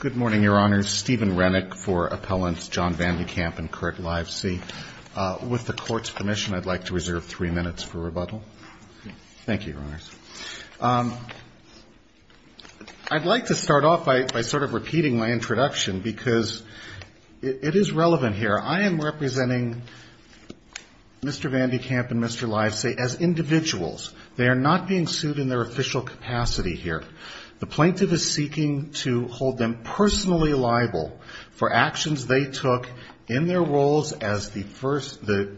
Good morning, Your Honors. Stephen Rennick for Appellants John Van de Kamp and Kurt Livesey. With the Court's permission, I'd like to reserve three minutes for rebuttal. Thank you, Your Honors. I'd like to start off by sort of repeating my introduction because it is relevant here. I am representing Mr. Van de Kamp and Mr. Livesey as individuals. They are not being prosecuted. The plaintiff is seeking to hold them personally liable for actions they took in their roles as the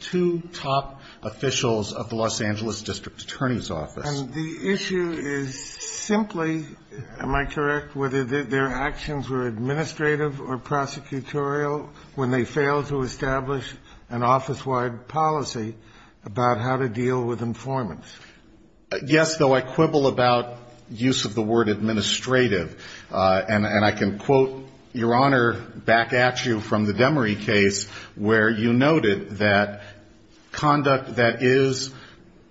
two top officials of the Los Angeles District Attorney's Office. And the issue is simply, am I correct, whether their actions were administrative or prosecutorial when they failed to establish an office-wide policy about how to deal with informants? Yes, though, I quibble about use of the word administrative. And I can quote, Your Honor, back at you from the Demery case where you noted that conduct that is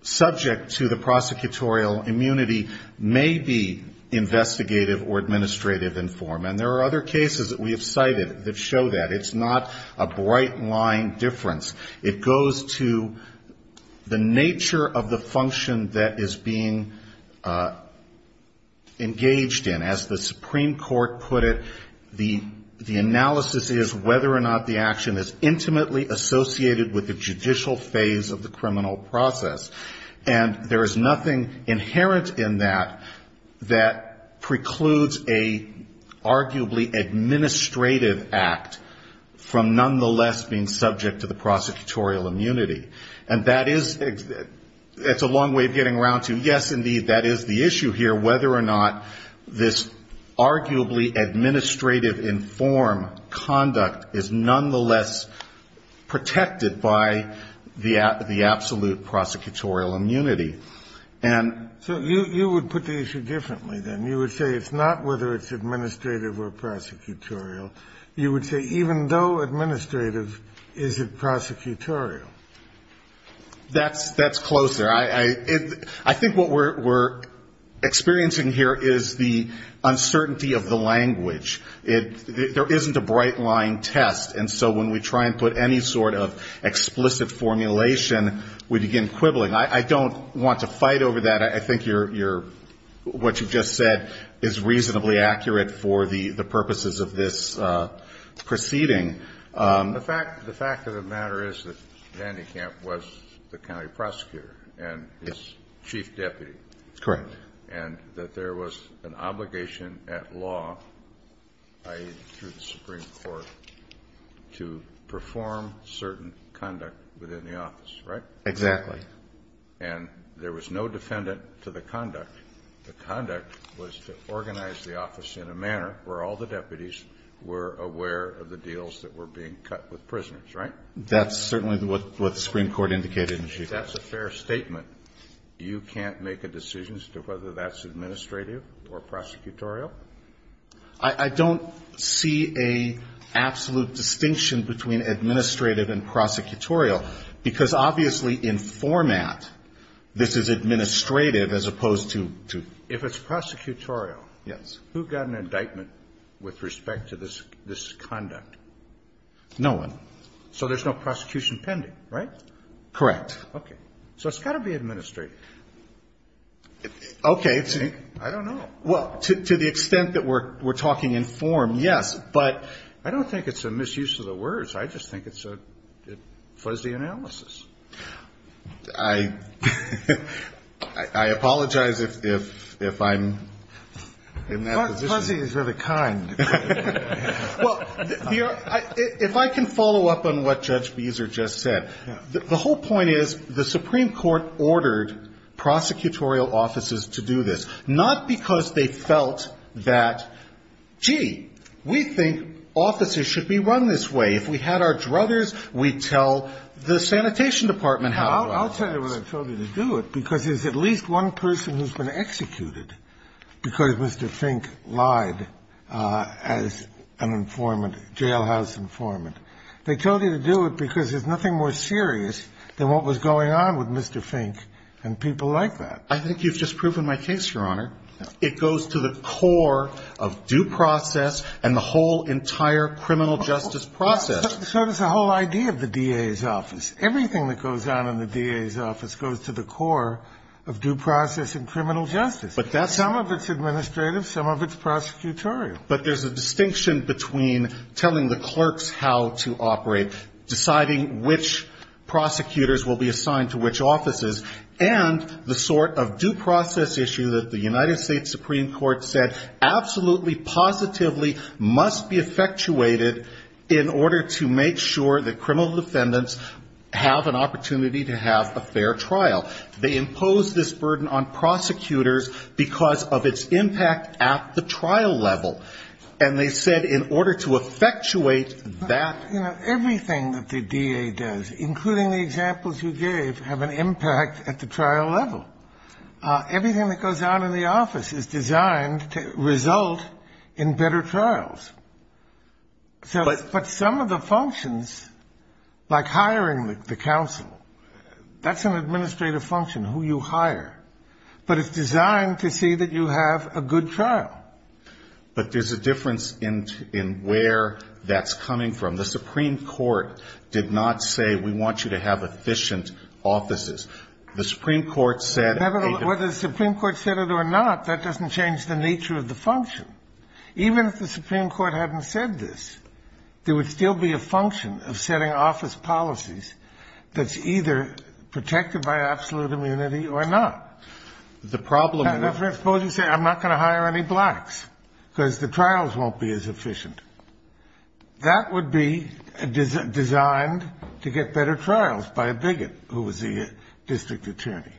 subject to the prosecutorial immunity may be investigative or administrative informant. There are other cases that we have cited that show that. It's not a bright line difference. It goes to the nature of the function that is being engaged in. As the Supreme Court put it, the analysis is whether or not the action is intimately associated with the judicial phase of the criminal process. And there is nothing inherent in that that precludes an arguably administrative act from nonetheless being subject to the It's a long way of getting around to, yes, indeed, that is the issue here, whether or not this arguably administrative inform conduct is nonetheless protected by the absolute prosecutorial immunity. And so you would put the issue differently, then. You would say it's not whether it's administrative or prosecutorial. You would say even though administrative, is it prosecutorial? That's closer. I think what we're experiencing here is the uncertainty of the language. There isn't a bright line test. And so when we try and put any sort of explicit formulation, we begin quibbling. I don't want to fight over that. I think what you just said is reasonably accurate for the purposes of this proceeding. The fact of the matter is that Van de Kamp was the county prosecutor and his chief deputy. Correct. And that there was an obligation at law, i.e. through the Supreme Court, to perform certain conduct within the office, right? Exactly. And there was no defendant to the conduct. The conduct was to organize the office in a manner where all the deputies were aware of the deals that were being cut with prisoners, right? That's certainly what the Supreme Court indicated in the Chief Justice. If that's a fair statement, you can't make a decision as to whether that's administrative or prosecutorial? I don't see an absolute distinction between administrative and prosecutorial, because obviously in format, this is administrative as opposed to to... If it's prosecutorial... Yes. Who got an indictment with respect to this conduct? No one. So there's no prosecution pending, right? Correct. Okay. So it's got to be administrative. Okay. I don't know. Well, to the extent that we're talking in form, yes. But I don't think it's a misuse of the words. I just think it's a fuzzy analysis. I apologize if I'm in that position. Fuzzy is really kind. Well, if I can follow up on what Judge Beezer just said, the whole point is the Supreme Court ordered prosecutorial offices to do this, not because they felt that, gee, we think offices should be run this way. If we had our druthers, we'd tell the Sanitation Department how it was. I'll tell you what I told you to do it, because there's at least one person who's been executed because Mr. Fink lied as an informant, jailhouse informant. They told you to do it because there's nothing more serious than what was going on with Mr. Fink and people like that. I think you've just proven my case, Your Honor. It goes to the core of due process and the whole entire criminal justice process. So does the whole idea of the DA's office. Everything that goes on in the DA's office goes to the core of due process and criminal justice. Some of it's administrative, some of it's prosecutorial. But there's a distinction between telling the clerks how to operate, deciding which prosecutors will be assigned to which Supreme Court said absolutely, positively, must be effectuated in order to make sure that criminal defendants have an opportunity to have a fair trial. They impose this burden on prosecutors because of its impact at the trial level. And they said in order to effectuate that. You know, everything that the DA does, including the examples you gave, have an impact at the trial level. Everything that goes on in the office is designed to result in better trials. But some of the functions, like hiring the counsel, that's an administrative function, who you hire. But it's designed to see that you have a good trial. But there's a difference in where that's coming from. The Supreme Court did not say we want you to have efficient offices. The Supreme Court said that. Whether the Supreme Court said it or not, that doesn't change the nature of the function. Even if the Supreme Court hadn't said this, there would still be a function of setting office policies that's either protected by absolute immunity or not. The problem is, suppose you say I'm not going to hire any blacks because the trials won't be as efficient. That would be designed to get better trials by a bigot who was the district attorney.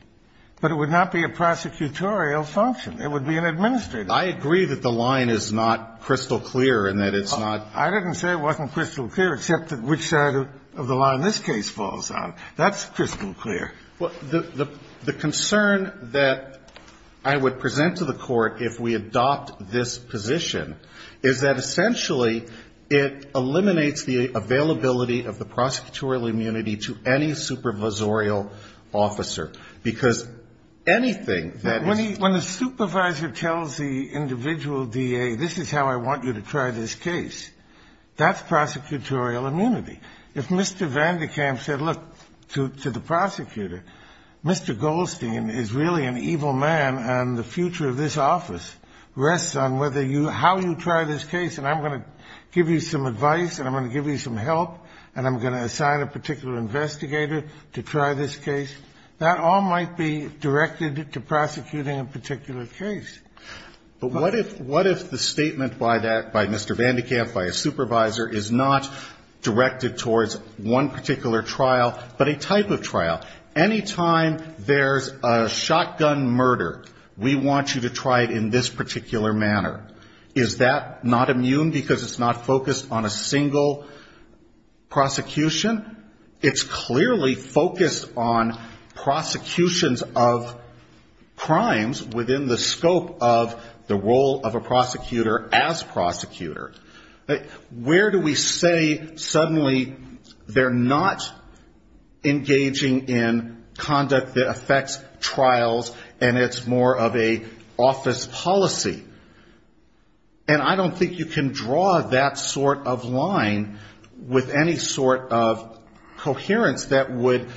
But it would not be a prosecutorial function. It would be an administrative function. I agree that the line is not crystal clear and that it's not – I didn't say it wasn't crystal clear, except which side of the line this case falls on. That's crystal clear. The concern that I would present to the Court if we adopt this position is that essentially it eliminates the availability of the prosecutorial immunity to any supervisorial officer. Because anything that is – When the supervisor tells the individual DA, this is how I want you to try this case, that's prosecutorial immunity. If Mr. Vandekamp said, look, to the prosecutor, Mr. Goldstein is really an evil man and the future of this office rests on whether you – how you try this case and I'm going to give you some advice and I'm going to give you some help and I'm going to assign a particular investigator to try this case, that all might be directed to prosecuting a particular case. But what if the statement by that – by Mr. Vandekamp, by a supervisor, is not directed towards one particular trial, but a type of trial? Anytime there's a shotgun murder, we want you to try it in this particular manner. Is that not immune because it's not focused on a single prosecution? It's clearly focused on prosecutions of crimes within the scope of the role of a prosecutor as prosecutor. Where do we say suddenly they're not engaging in conduct that affects trials and it's more of a office policy? And I don't think you can draw that sort of line with any sort of coherence that would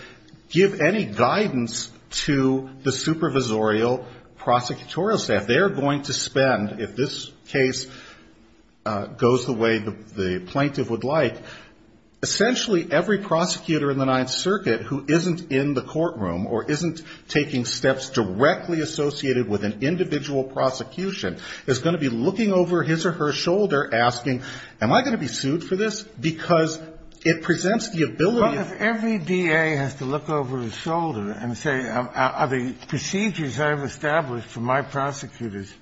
give any guidance to the supervisorial prosecutorial staff. They're going to spend, if this case goes the way the plaintiff would like, essentially every prosecutor in the Ninth Circuit who isn't in the courtroom or isn't taking steps directly associated with an individual prosecution is going to be looking over his or her shoulder asking, am I going to be sued for this? Because it presents the ability of – But if every DA has to look over his shoulder and say, are the procedures I've established for my prosecutors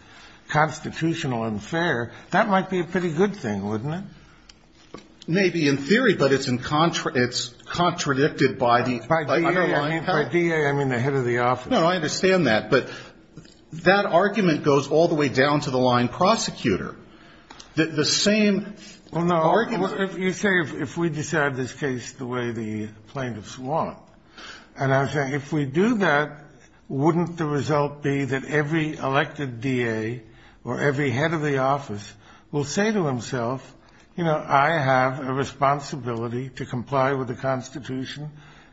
constitutional and fair, that might be a pretty good thing, wouldn't it? Maybe in theory, but it's in – it's contradicted by the underlying – By DA, I mean the head of the office. No, no, I understand that, but that argument goes all the way down to the line prosecutor. The same – Well, no, you say if we decide this case the way the plaintiffs want, and I say if we do that, wouldn't the result be that every elected DA or every head of the office will say to himself, you know, I have a responsibility to comply with the Constitution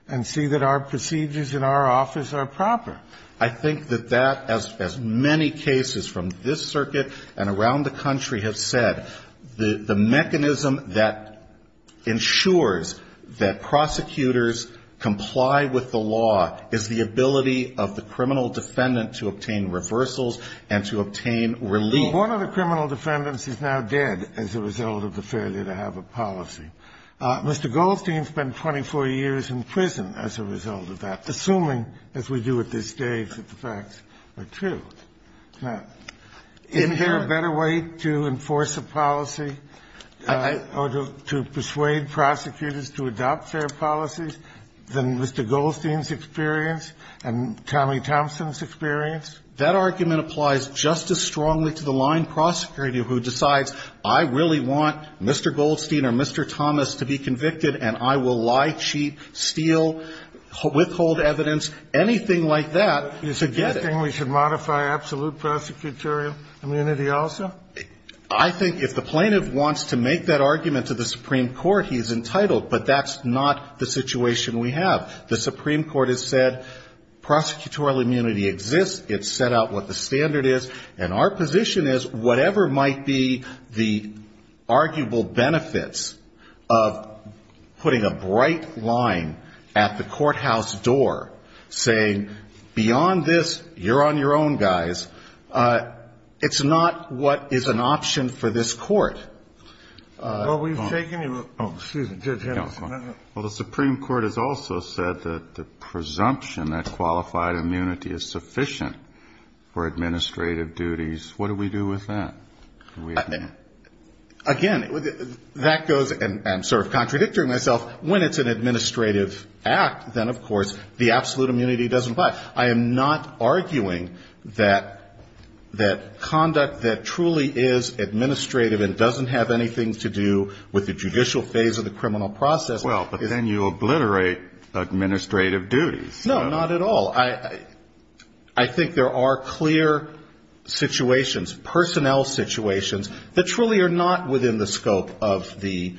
and see that our procedures in our office are proper? I think that that, as many cases from this circuit and around the country have said, the mechanism that ensures that prosecutors comply with the law is the ability of the criminal defendant to obtain reversals and to obtain relief. One of the criminal defendants is now dead as a result of the failure to have a policy. Mr. Goldstein spent 24 years in prison as a result of that, assuming, as we do at this stage, that the facts are true. Is there a better way to enforce a policy or to persuade prosecutors to adopt fair policies than Mr. Goldstein's experience and Tommy Thompson's experience? That argument applies just as strongly to the line prosecutor who decides, I really want Mr. Goldstein or Mr. Thomas to be convicted, and I will lie, cheat, steal, withhold evidence, anything like that to get it. You're suggesting we should modify absolute prosecutorial immunity also? I think if the plaintiff wants to make that argument to the Supreme Court, he's entitled, but that's not the situation we have. The Supreme Court has said prosecutorial immunity exists, it's set out what the standard is, and our position is whatever might be the arguable benefits of putting a bright line at the courthouse door saying, beyond this, you're on your own, guys, it's not what is an option for this court. Well, we've taken your, oh, excuse me, Judge Henderson. Well, the Supreme Court has also said that the presumption that qualified immunity is sufficient for administrative duties. What do we do with that? Again, that goes, and I'm sort of contradicting myself, when it's an administrative act, then, of course, the absolute immunity doesn't apply. I am not arguing that conduct that truly is administrative and doesn't apply to the statute of limitations of the statute of limitations, doesn't have anything to do with the judicial phase of the criminal process. Well, but then you obliterate administrative duties. No, not at all. I think there are clear situations, personnel situations, that truly are not within the scope of the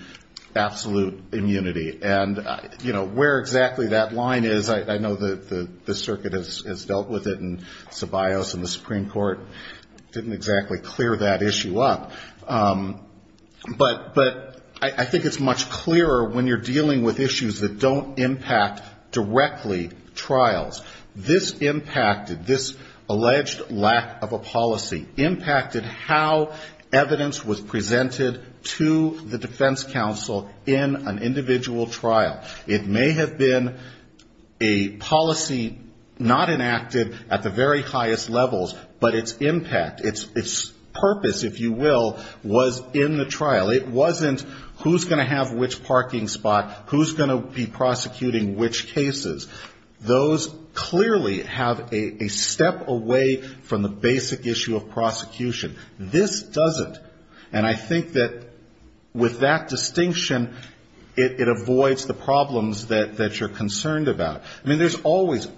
absolute immunity. And, you know, where exactly that line is, I know the circuit has dealt with it, and Ceballos and the Supreme Court didn't exactly clear that issue up. But I think it's much clearer when you're dealing with issues that don't impact directly trials. This impacted, this alleged lack of a policy, impacted how evidence was presented to the defense counsel in an individual trial. It may have been a policy not enacted at the very highest levels, but its impact, its purpose, if you will, was in that trial. It wasn't who's going to have which parking spot, who's going to be prosecuting which cases. Those clearly have a step away from the basic issue of prosecution. This doesn't. And I think that with that distinction, it avoids the problems that you're concerned about. I mean, there's always,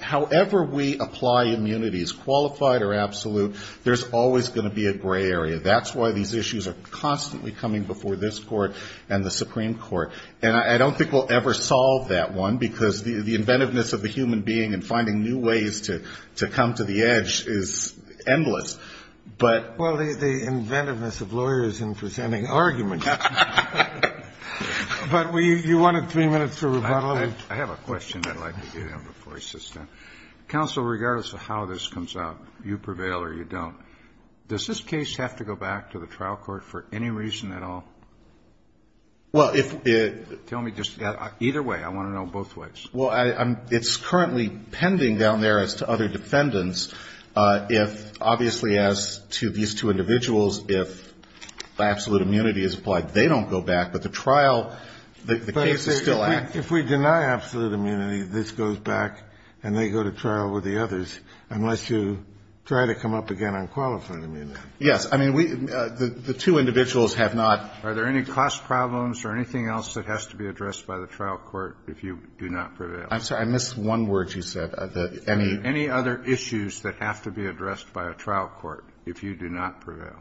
however we apply immunities, qualified or absolute, there's always going to be a gray area. That's why these issues are constantly coming before this Court and the Supreme Court. And I don't think we'll ever solve that one, because the inventiveness of the human being and finding new ways to come to the edge is endless. But the inventiveness of lawyers in presenting arguments. But you wanted three minutes for rebuttal. I have a question I'd like to get in before I suspend. Do you want to go back to the trial court for any reason at all? Tell me just either way. I want to know both ways. Well, it's currently pending down there as to other defendants, if obviously as to these two individuals, if absolute immunity is applied, they don't go back. But the trial, the case is still active. But if we deny absolute immunity, this goes back and they go to trial with the others, unless you try to come up again on qualified immunity. The two individuals have not. Are there any cost problems or anything else that has to be addressed by the trial court if you do not prevail? I'm sorry. I missed one word you said. Any other issues that have to be addressed by a trial court if you do not prevail?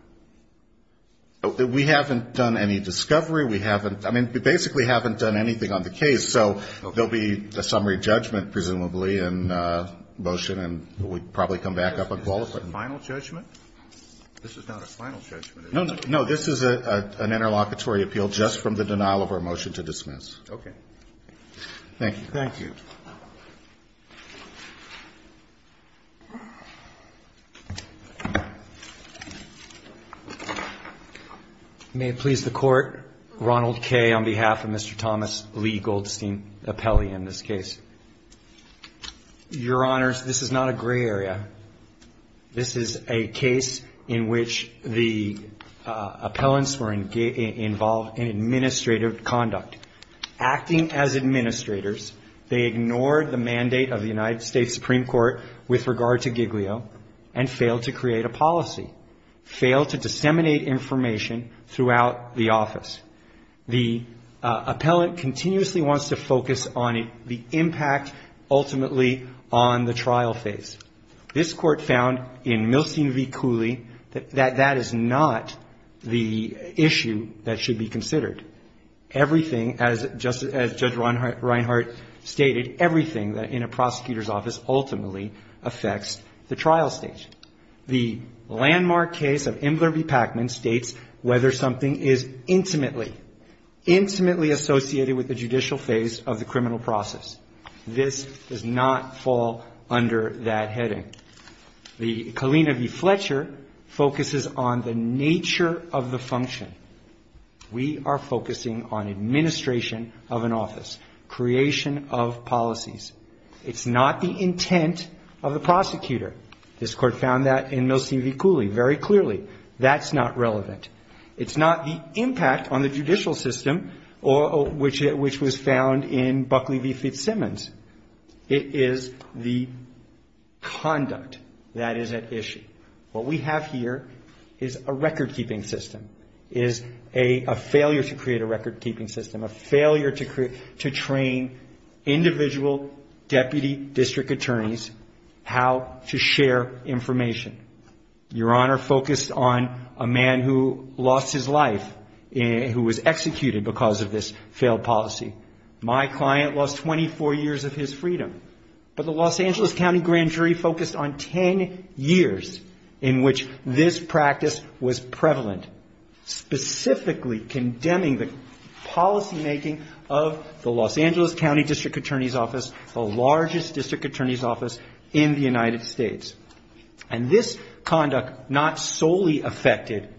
We haven't done any discovery. We haven't, I mean, we basically haven't done anything on the case. So there will be a summary judgment, presumably, in motion, and we'll probably come back up on qualified. Is this a final judgment? This is not a final judgment, is it? No, this is an interlocutory appeal just from the denial of our motion to dismiss. Okay. Thank you. May it please the Court, Ronald Kay on behalf of Mr. Thomas Lee Goldstein, appellee in this case. Your Honors, this is not a gray area. This is a case in which the appellants were involved in administrative conduct, acting as administrators, they ignored the mandate of the United States Supreme Court with regard to Giglio and failed to create a policy, failed to disseminate information throughout the office. The appellant continuously wants to focus on the impact ultimately on the trial phase. This Court found in Milstein v. Cooley that that is not the issue that should be considered. Everything, as Judge Reinhart stated, everything in a prosecutor's office ultimately affects the trial stage. The landmark case of Imler v. Pacman states whether something is intimately, intimately associated with the judicial phase of the criminal process. This does not fall under that heading. The Kalina v. Fletcher focuses on the nature of the function. We are focusing on administration of an office, creation of policies. It's not the intent of the prosecutor. This Court found that in Milstein v. Cooley very clearly. That's not relevant. It's not the impact on the judicial system, which was found in Buckley v. Fitzsimmons. It is the conduct that is at issue. What we have here is a record-keeping system, is a failure to create a record-keeping system, a failure to train individual deputy district attorneys how to share information. Your Honor focused on a man who lost his life, who was executed because of this failed policy. My client lost 24 years of his freedom. But the Los Angeles County Grand Jury focused on 10 years in which this practice was prevalent, specifically condemning the policymaking of the Los Angeles County District Attorney's Office, the largest district attorney's office in the United States. And this conduct not solely affected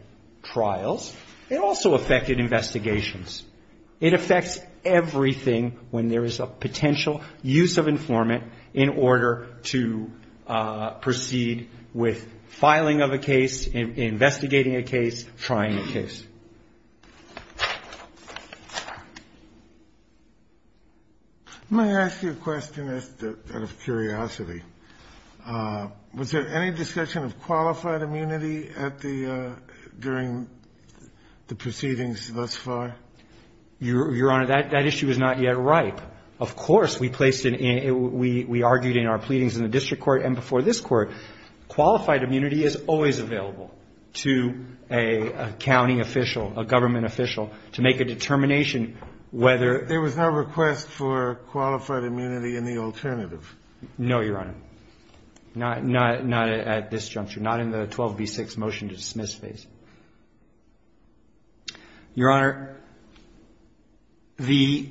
trials. It also affected investigations. It affects everything when there is a potential use of informant in order to proceed with filing of a case, investigating a case, trying a case. Let me ask you a question out of curiosity. Was there any discussion of qualified immunity during the proceedings thus far? Your Honor, that issue is not yet ripe. Of course, we argued in our pleadings in the district court and before this Court. Qualified immunity is always available to a county official, a government official, to make a determination whether There was no request for qualified immunity in the alternative. No, Your Honor. Not at this juncture. Not in the 12b-6 motion to dismiss phase. Your Honor, the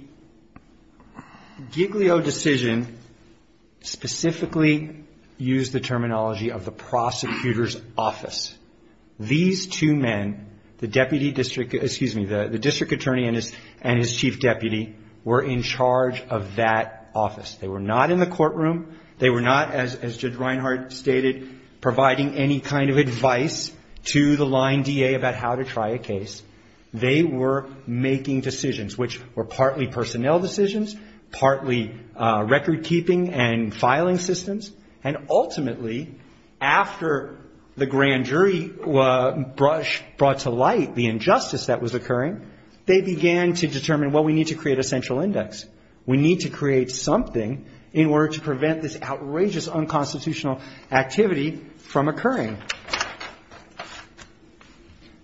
Giglio decision specifically used the terminology of the prosecutor's office. These two men, the district attorney and his chief deputy, were in charge of that office. They were not in the courtroom. They were not, as Judge Reinhart stated, providing any kind of advice to the line DA about how to try a case. They were making decisions, which were partly personnel decisions, partly recordkeeping and filing systems. And ultimately, after the grand jury brought to light the injustice that was occurring, they began to determine, well, we need to create a central index. We need to create something in order to prevent this outrageous unconstitutional activity from occurring.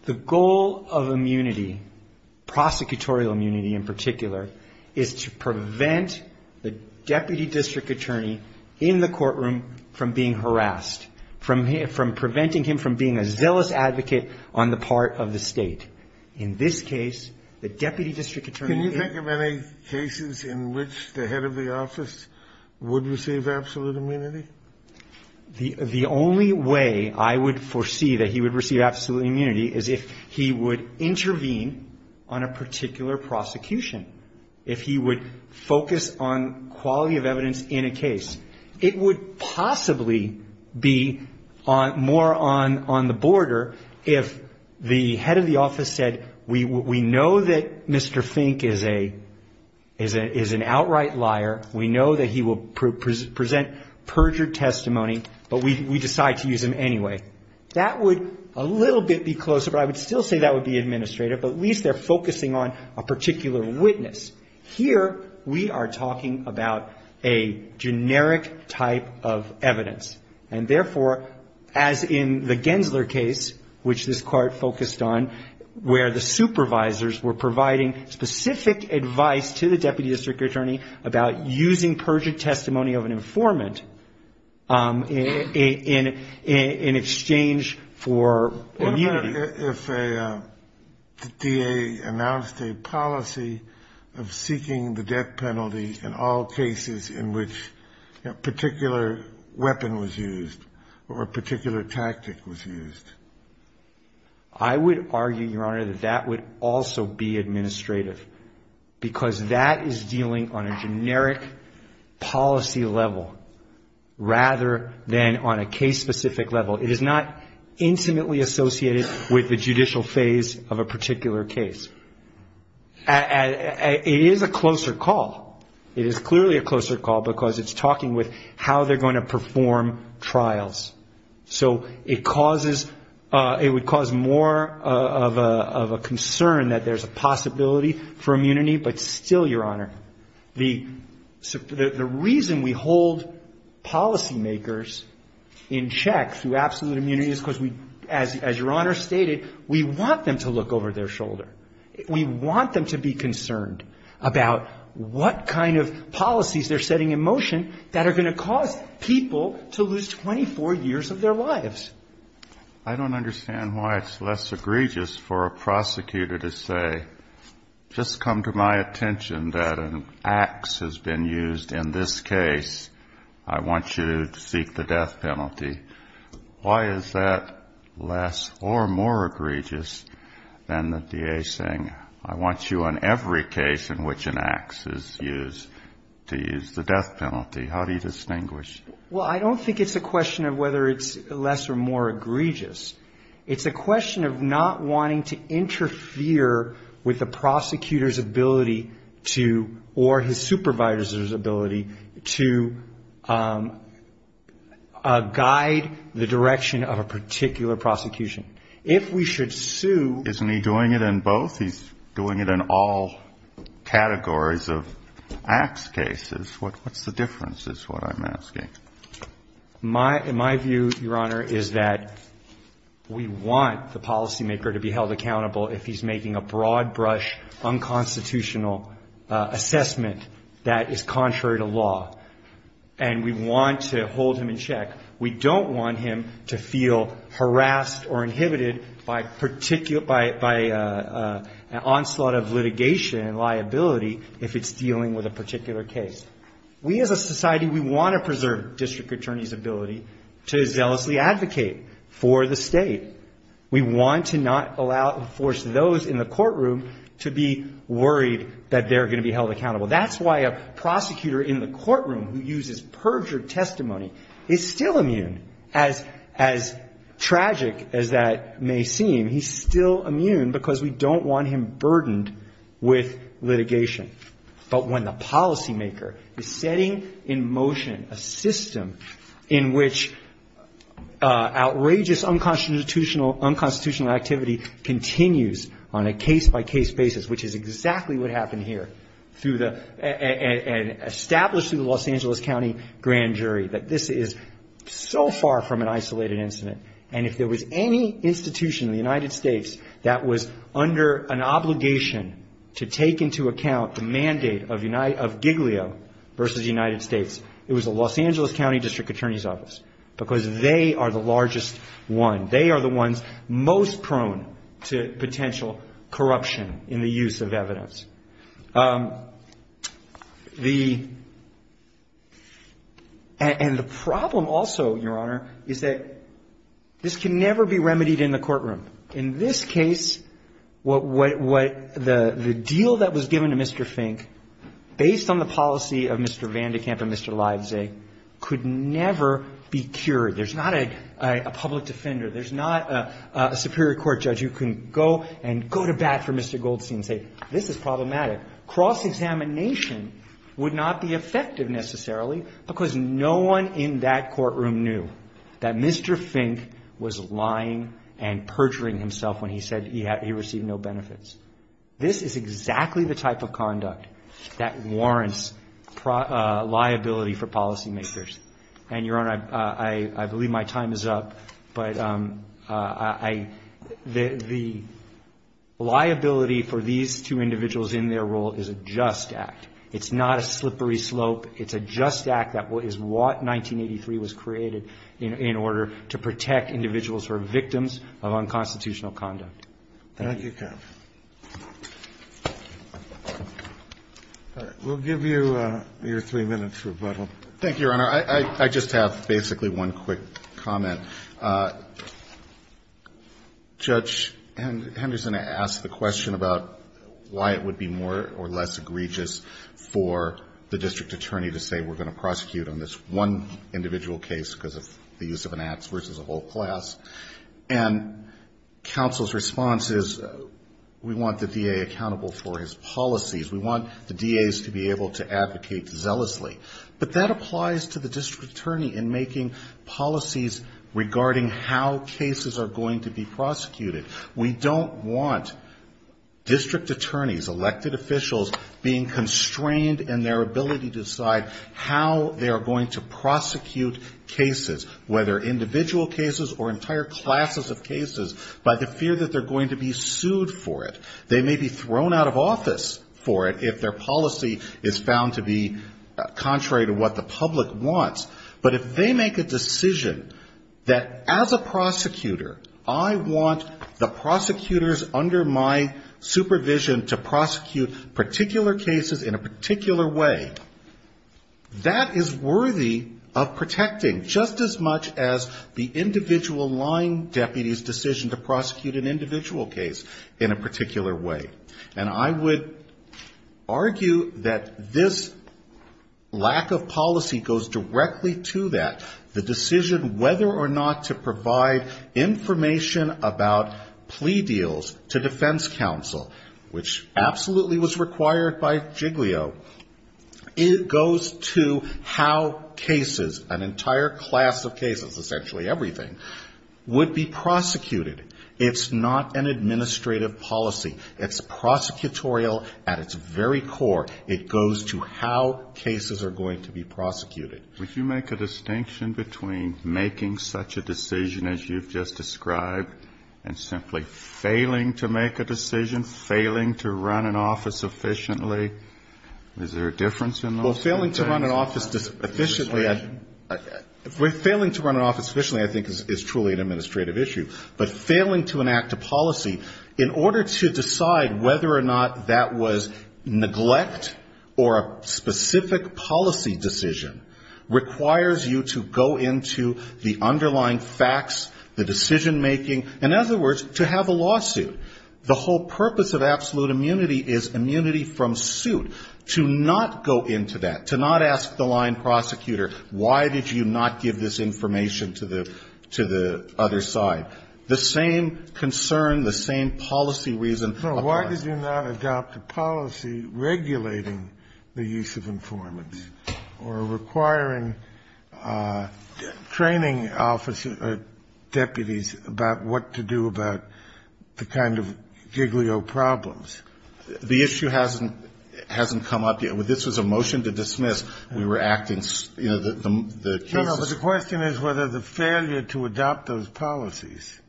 The goal of immunity, prosecutorial immunity in particular, is to prevent the deputy district attorney in the courtroom from being harassed, from preventing him from being a zealous advocate on the part of the state. In this case, the deputy district attorney — Can you think of any cases in which the head of the office would receive absolute immunity? The only way I would foresee that he would receive absolute immunity is if he would intervene on a particular prosecution. If he would focus on quality of evidence in a case. It would possibly be more on the border if the head of the office was not a prosecutor. If the head of the office said, we know that Mr. Fink is an outright liar, we know that he will present perjured testimony, but we decide to use him anyway, that would a little bit be closer, but I would still say that would be administrative, but at least they're focusing on a particular witness. Here, we are talking about a generic type of evidence. And therefore, as in the Gensler case, which this court focused on, where the supervisors were providing specific advice to the deputy district attorney about using perjured testimony of an informant in exchange for immunity. What about if a DA announced a policy of seeking the death penalty in all cases in which a particular weapon was used? Or a particular tactic was used? I would argue, Your Honor, that that would also be administrative, because that is dealing on a generic policy level, rather than on a case-specific level. It is not intimately associated with the judicial phase of a particular case. It is a closer call. It is clearly a closer call, because it's talking with how they're going to perform trials. So it causes, it would cause more of a concern that there's a possibility for immunity, but still, Your Honor, the reason we hold policymakers in check through absolute immunity is because we, as Your Honor stated, we want them to look over their shoulder. We want them to be concerned about what kind of policies they're setting in motion that are going to cause people to lose 24 years of their lives. I don't understand why it's less egregious for a prosecutor to say, just come to my attention that an axe has been used in this case. I want you to seek the death penalty. Why is that less or more egregious than the DA saying, I want you on every case in which an axe is used to use the death penalty? How do you distinguish? Well, I don't think it's a question of whether it's less or more egregious. It's a question of not wanting to interfere with the prosecutor's ability to, or his supervisor's ability to guide the prosecutor's decision. It's a question of not wanting to interfere with the prosecutor's ability to guide the direction of a particular prosecution. If we should sue the DA, then we should sue the prosecutor. Isn't he doing it in both? He's doing it in all categories of axe cases. What's the difference is what I'm asking. My view, Your Honor, is that we want the policymaker to be held accountable if he's making a broad brush unconstitutional assessment that is contrary to law. We don't want him to feel harassed or inhibited by an onslaught of litigation and liability if it's dealing with a particular case. We as a society, we want to preserve district attorney's ability to zealously advocate for the state. We want to not allow, force those in the courtroom to be worried that they're going to be held accountable. That's why a prosecutor in the courtroom who uses perjured testimony is still immune. As tragic as that may seem, he's still immune because we don't want him burdened with litigation. But when the policymaker is setting in motion a system in which outrageous unconstitutional activity continues on a case-by-case basis, which is exactly what happened here, and established through the Los Angeles County Grand Jury, that this is so far from a isolated incident, and if there was any institution in the United States that was under an obligation to take into account the mandate of Giglio versus the United States, it was the Los Angeles County District Attorney's Office, because they are the largest one. They are the ones most prone to potential corruption in the use of evidence. The — and the problem also, Your Honor, is that this can never be remedied in the courtroom. In this case, what — the deal that was given to Mr. Fink, based on the policy of Mr. Vandekamp and Mr. Livesay, could never be cured. There's not a public defender. There's not a superior court judge who can go and go to bat for Mr. Goldstein and say, this is problematic. Cross-examination would not be effective, necessarily, because no one in that courtroom knew that Mr. Fink was lying and perjuring himself when he said he received no benefits. This is exactly the type of conduct that warrants liability for policymakers. And, Your Honor, I believe my time is up, but I — the liability for these two cases, the liability for the two individuals in their role, is a just act. It's not a slippery slope. It's a just act that is what 1983 was created in order to protect individuals who are victims of unconstitutional conduct. Thank you. All right. We'll give you your three minutes rebuttal. Thank you, Your Honor. I just have, basically, one quick comment. Judge Henderson asked the question about the case, why it would be more or less egregious for the district attorney to say, we're going to prosecute on this one individual case because of the use of an ax versus a whole class. And counsel's response is, we want the DA accountable for his policies. We want the DAs to be able to advocate zealously. But that applies to the district attorney in making policies regarding how cases are going to be prosecuted. We want the district attorneys, elected officials, being constrained in their ability to decide how they are going to prosecute cases, whether individual cases or entire classes of cases, by the fear that they're going to be sued for it. They may be thrown out of office for it if their policy is found to be contrary to what the public wants. But if they make a decision that, as a prosecutor, I want the prosecutors under my supervision to prosecute on this case, I want to prosecute particular cases in a particular way, that is worthy of protecting, just as much as the individual line deputy's decision to prosecute an individual case in a particular way. And I would argue that this lack of policy goes directly to that, the decision whether or not to provide information about plea deals to defense counsel, which absolutely was required by Jiglio, it goes to how cases, an entire class of cases, essentially everything, would be prosecuted. It's not an administrative policy. It's prosecutorial at its very core. It goes to how cases are going to be prosecuted. Would you make a distinction between making such a decision as you've just described and simply failing to make a decision, failing to run an office efficiently? Is there a difference in those two things? Well, failing to run an office efficiently, I think, is truly an administrative issue. But failing to enact a policy, in order to decide whether or not that was neglect or a specific policy decision, I think, is an administrative issue. It requires you to go into the underlying facts, the decision-making, in other words, to have a lawsuit. The whole purpose of absolute immunity is immunity from suit. To not go into that, to not ask the line prosecutor, why did you not give this information to the other side? The same concern, the same policy reason applies. No, why did you not adopt a policy regulating the use of informants, or requiring training officers, deputies, about what to do about the kind of giglio problems? The issue hasn't come up yet. This was a motion to dismiss. We were acting, you know, the cases. No, no, but the question is whether the failure to adopt those policies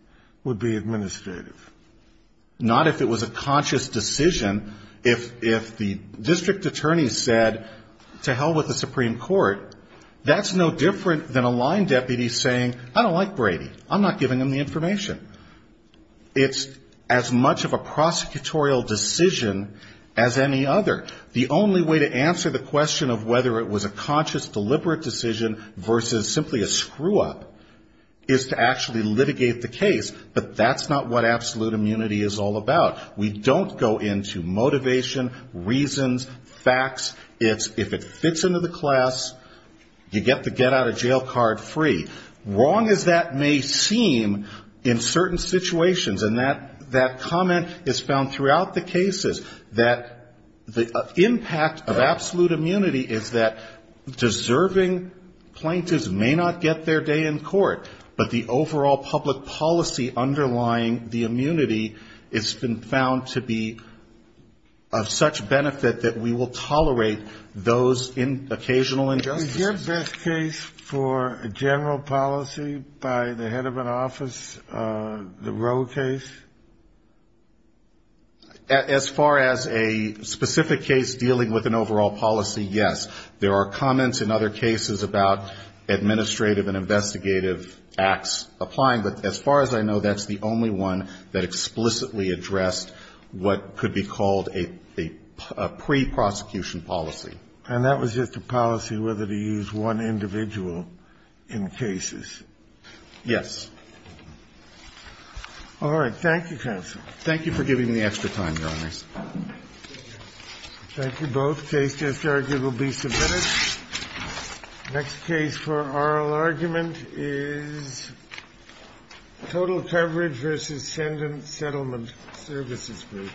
would be administrative. Not if it was a conscious decision. If the district attorney said, to hell with the Supreme Court, I'm going to adopt this policy. That's no different than a line deputy saying, I don't like Brady. I'm not giving him the information. It's as much of a prosecutorial decision as any other. The only way to answer the question of whether it was a conscious, deliberate decision versus simply a screw-up is to actually litigate the case, but that's not what absolute immunity is all about. We don't go into motivation, reasons, facts. It's if it fits into the class, you get the get-out-of-jail-card free. Wrong as that may seem in certain situations, and that comment is found throughout the cases, that the impact of absolute immunity is that deserving plaintiffs may not get their day in court, but the overall public policy underlying the immunity has been found to be of such benefit that we will tolerate those occasional injustices. Is your best case for a general policy by the head of an office, the Roe case? As far as a specific case dealing with an overall policy, yes. There are comments in other cases about administrative and investigative acts applying, but as far as I know, that's the only one that explicitly addressed what could be called a pre-prosecution policy. And that was just a policy whether to use one individual in cases? Yes. All right. Thank you, counsel. Thank you for giving me extra time, Your Honors. Thank you both. Case just argued will be submitted. Next case for oral argument is Total Coverage v. Sendon Settlement Services Group.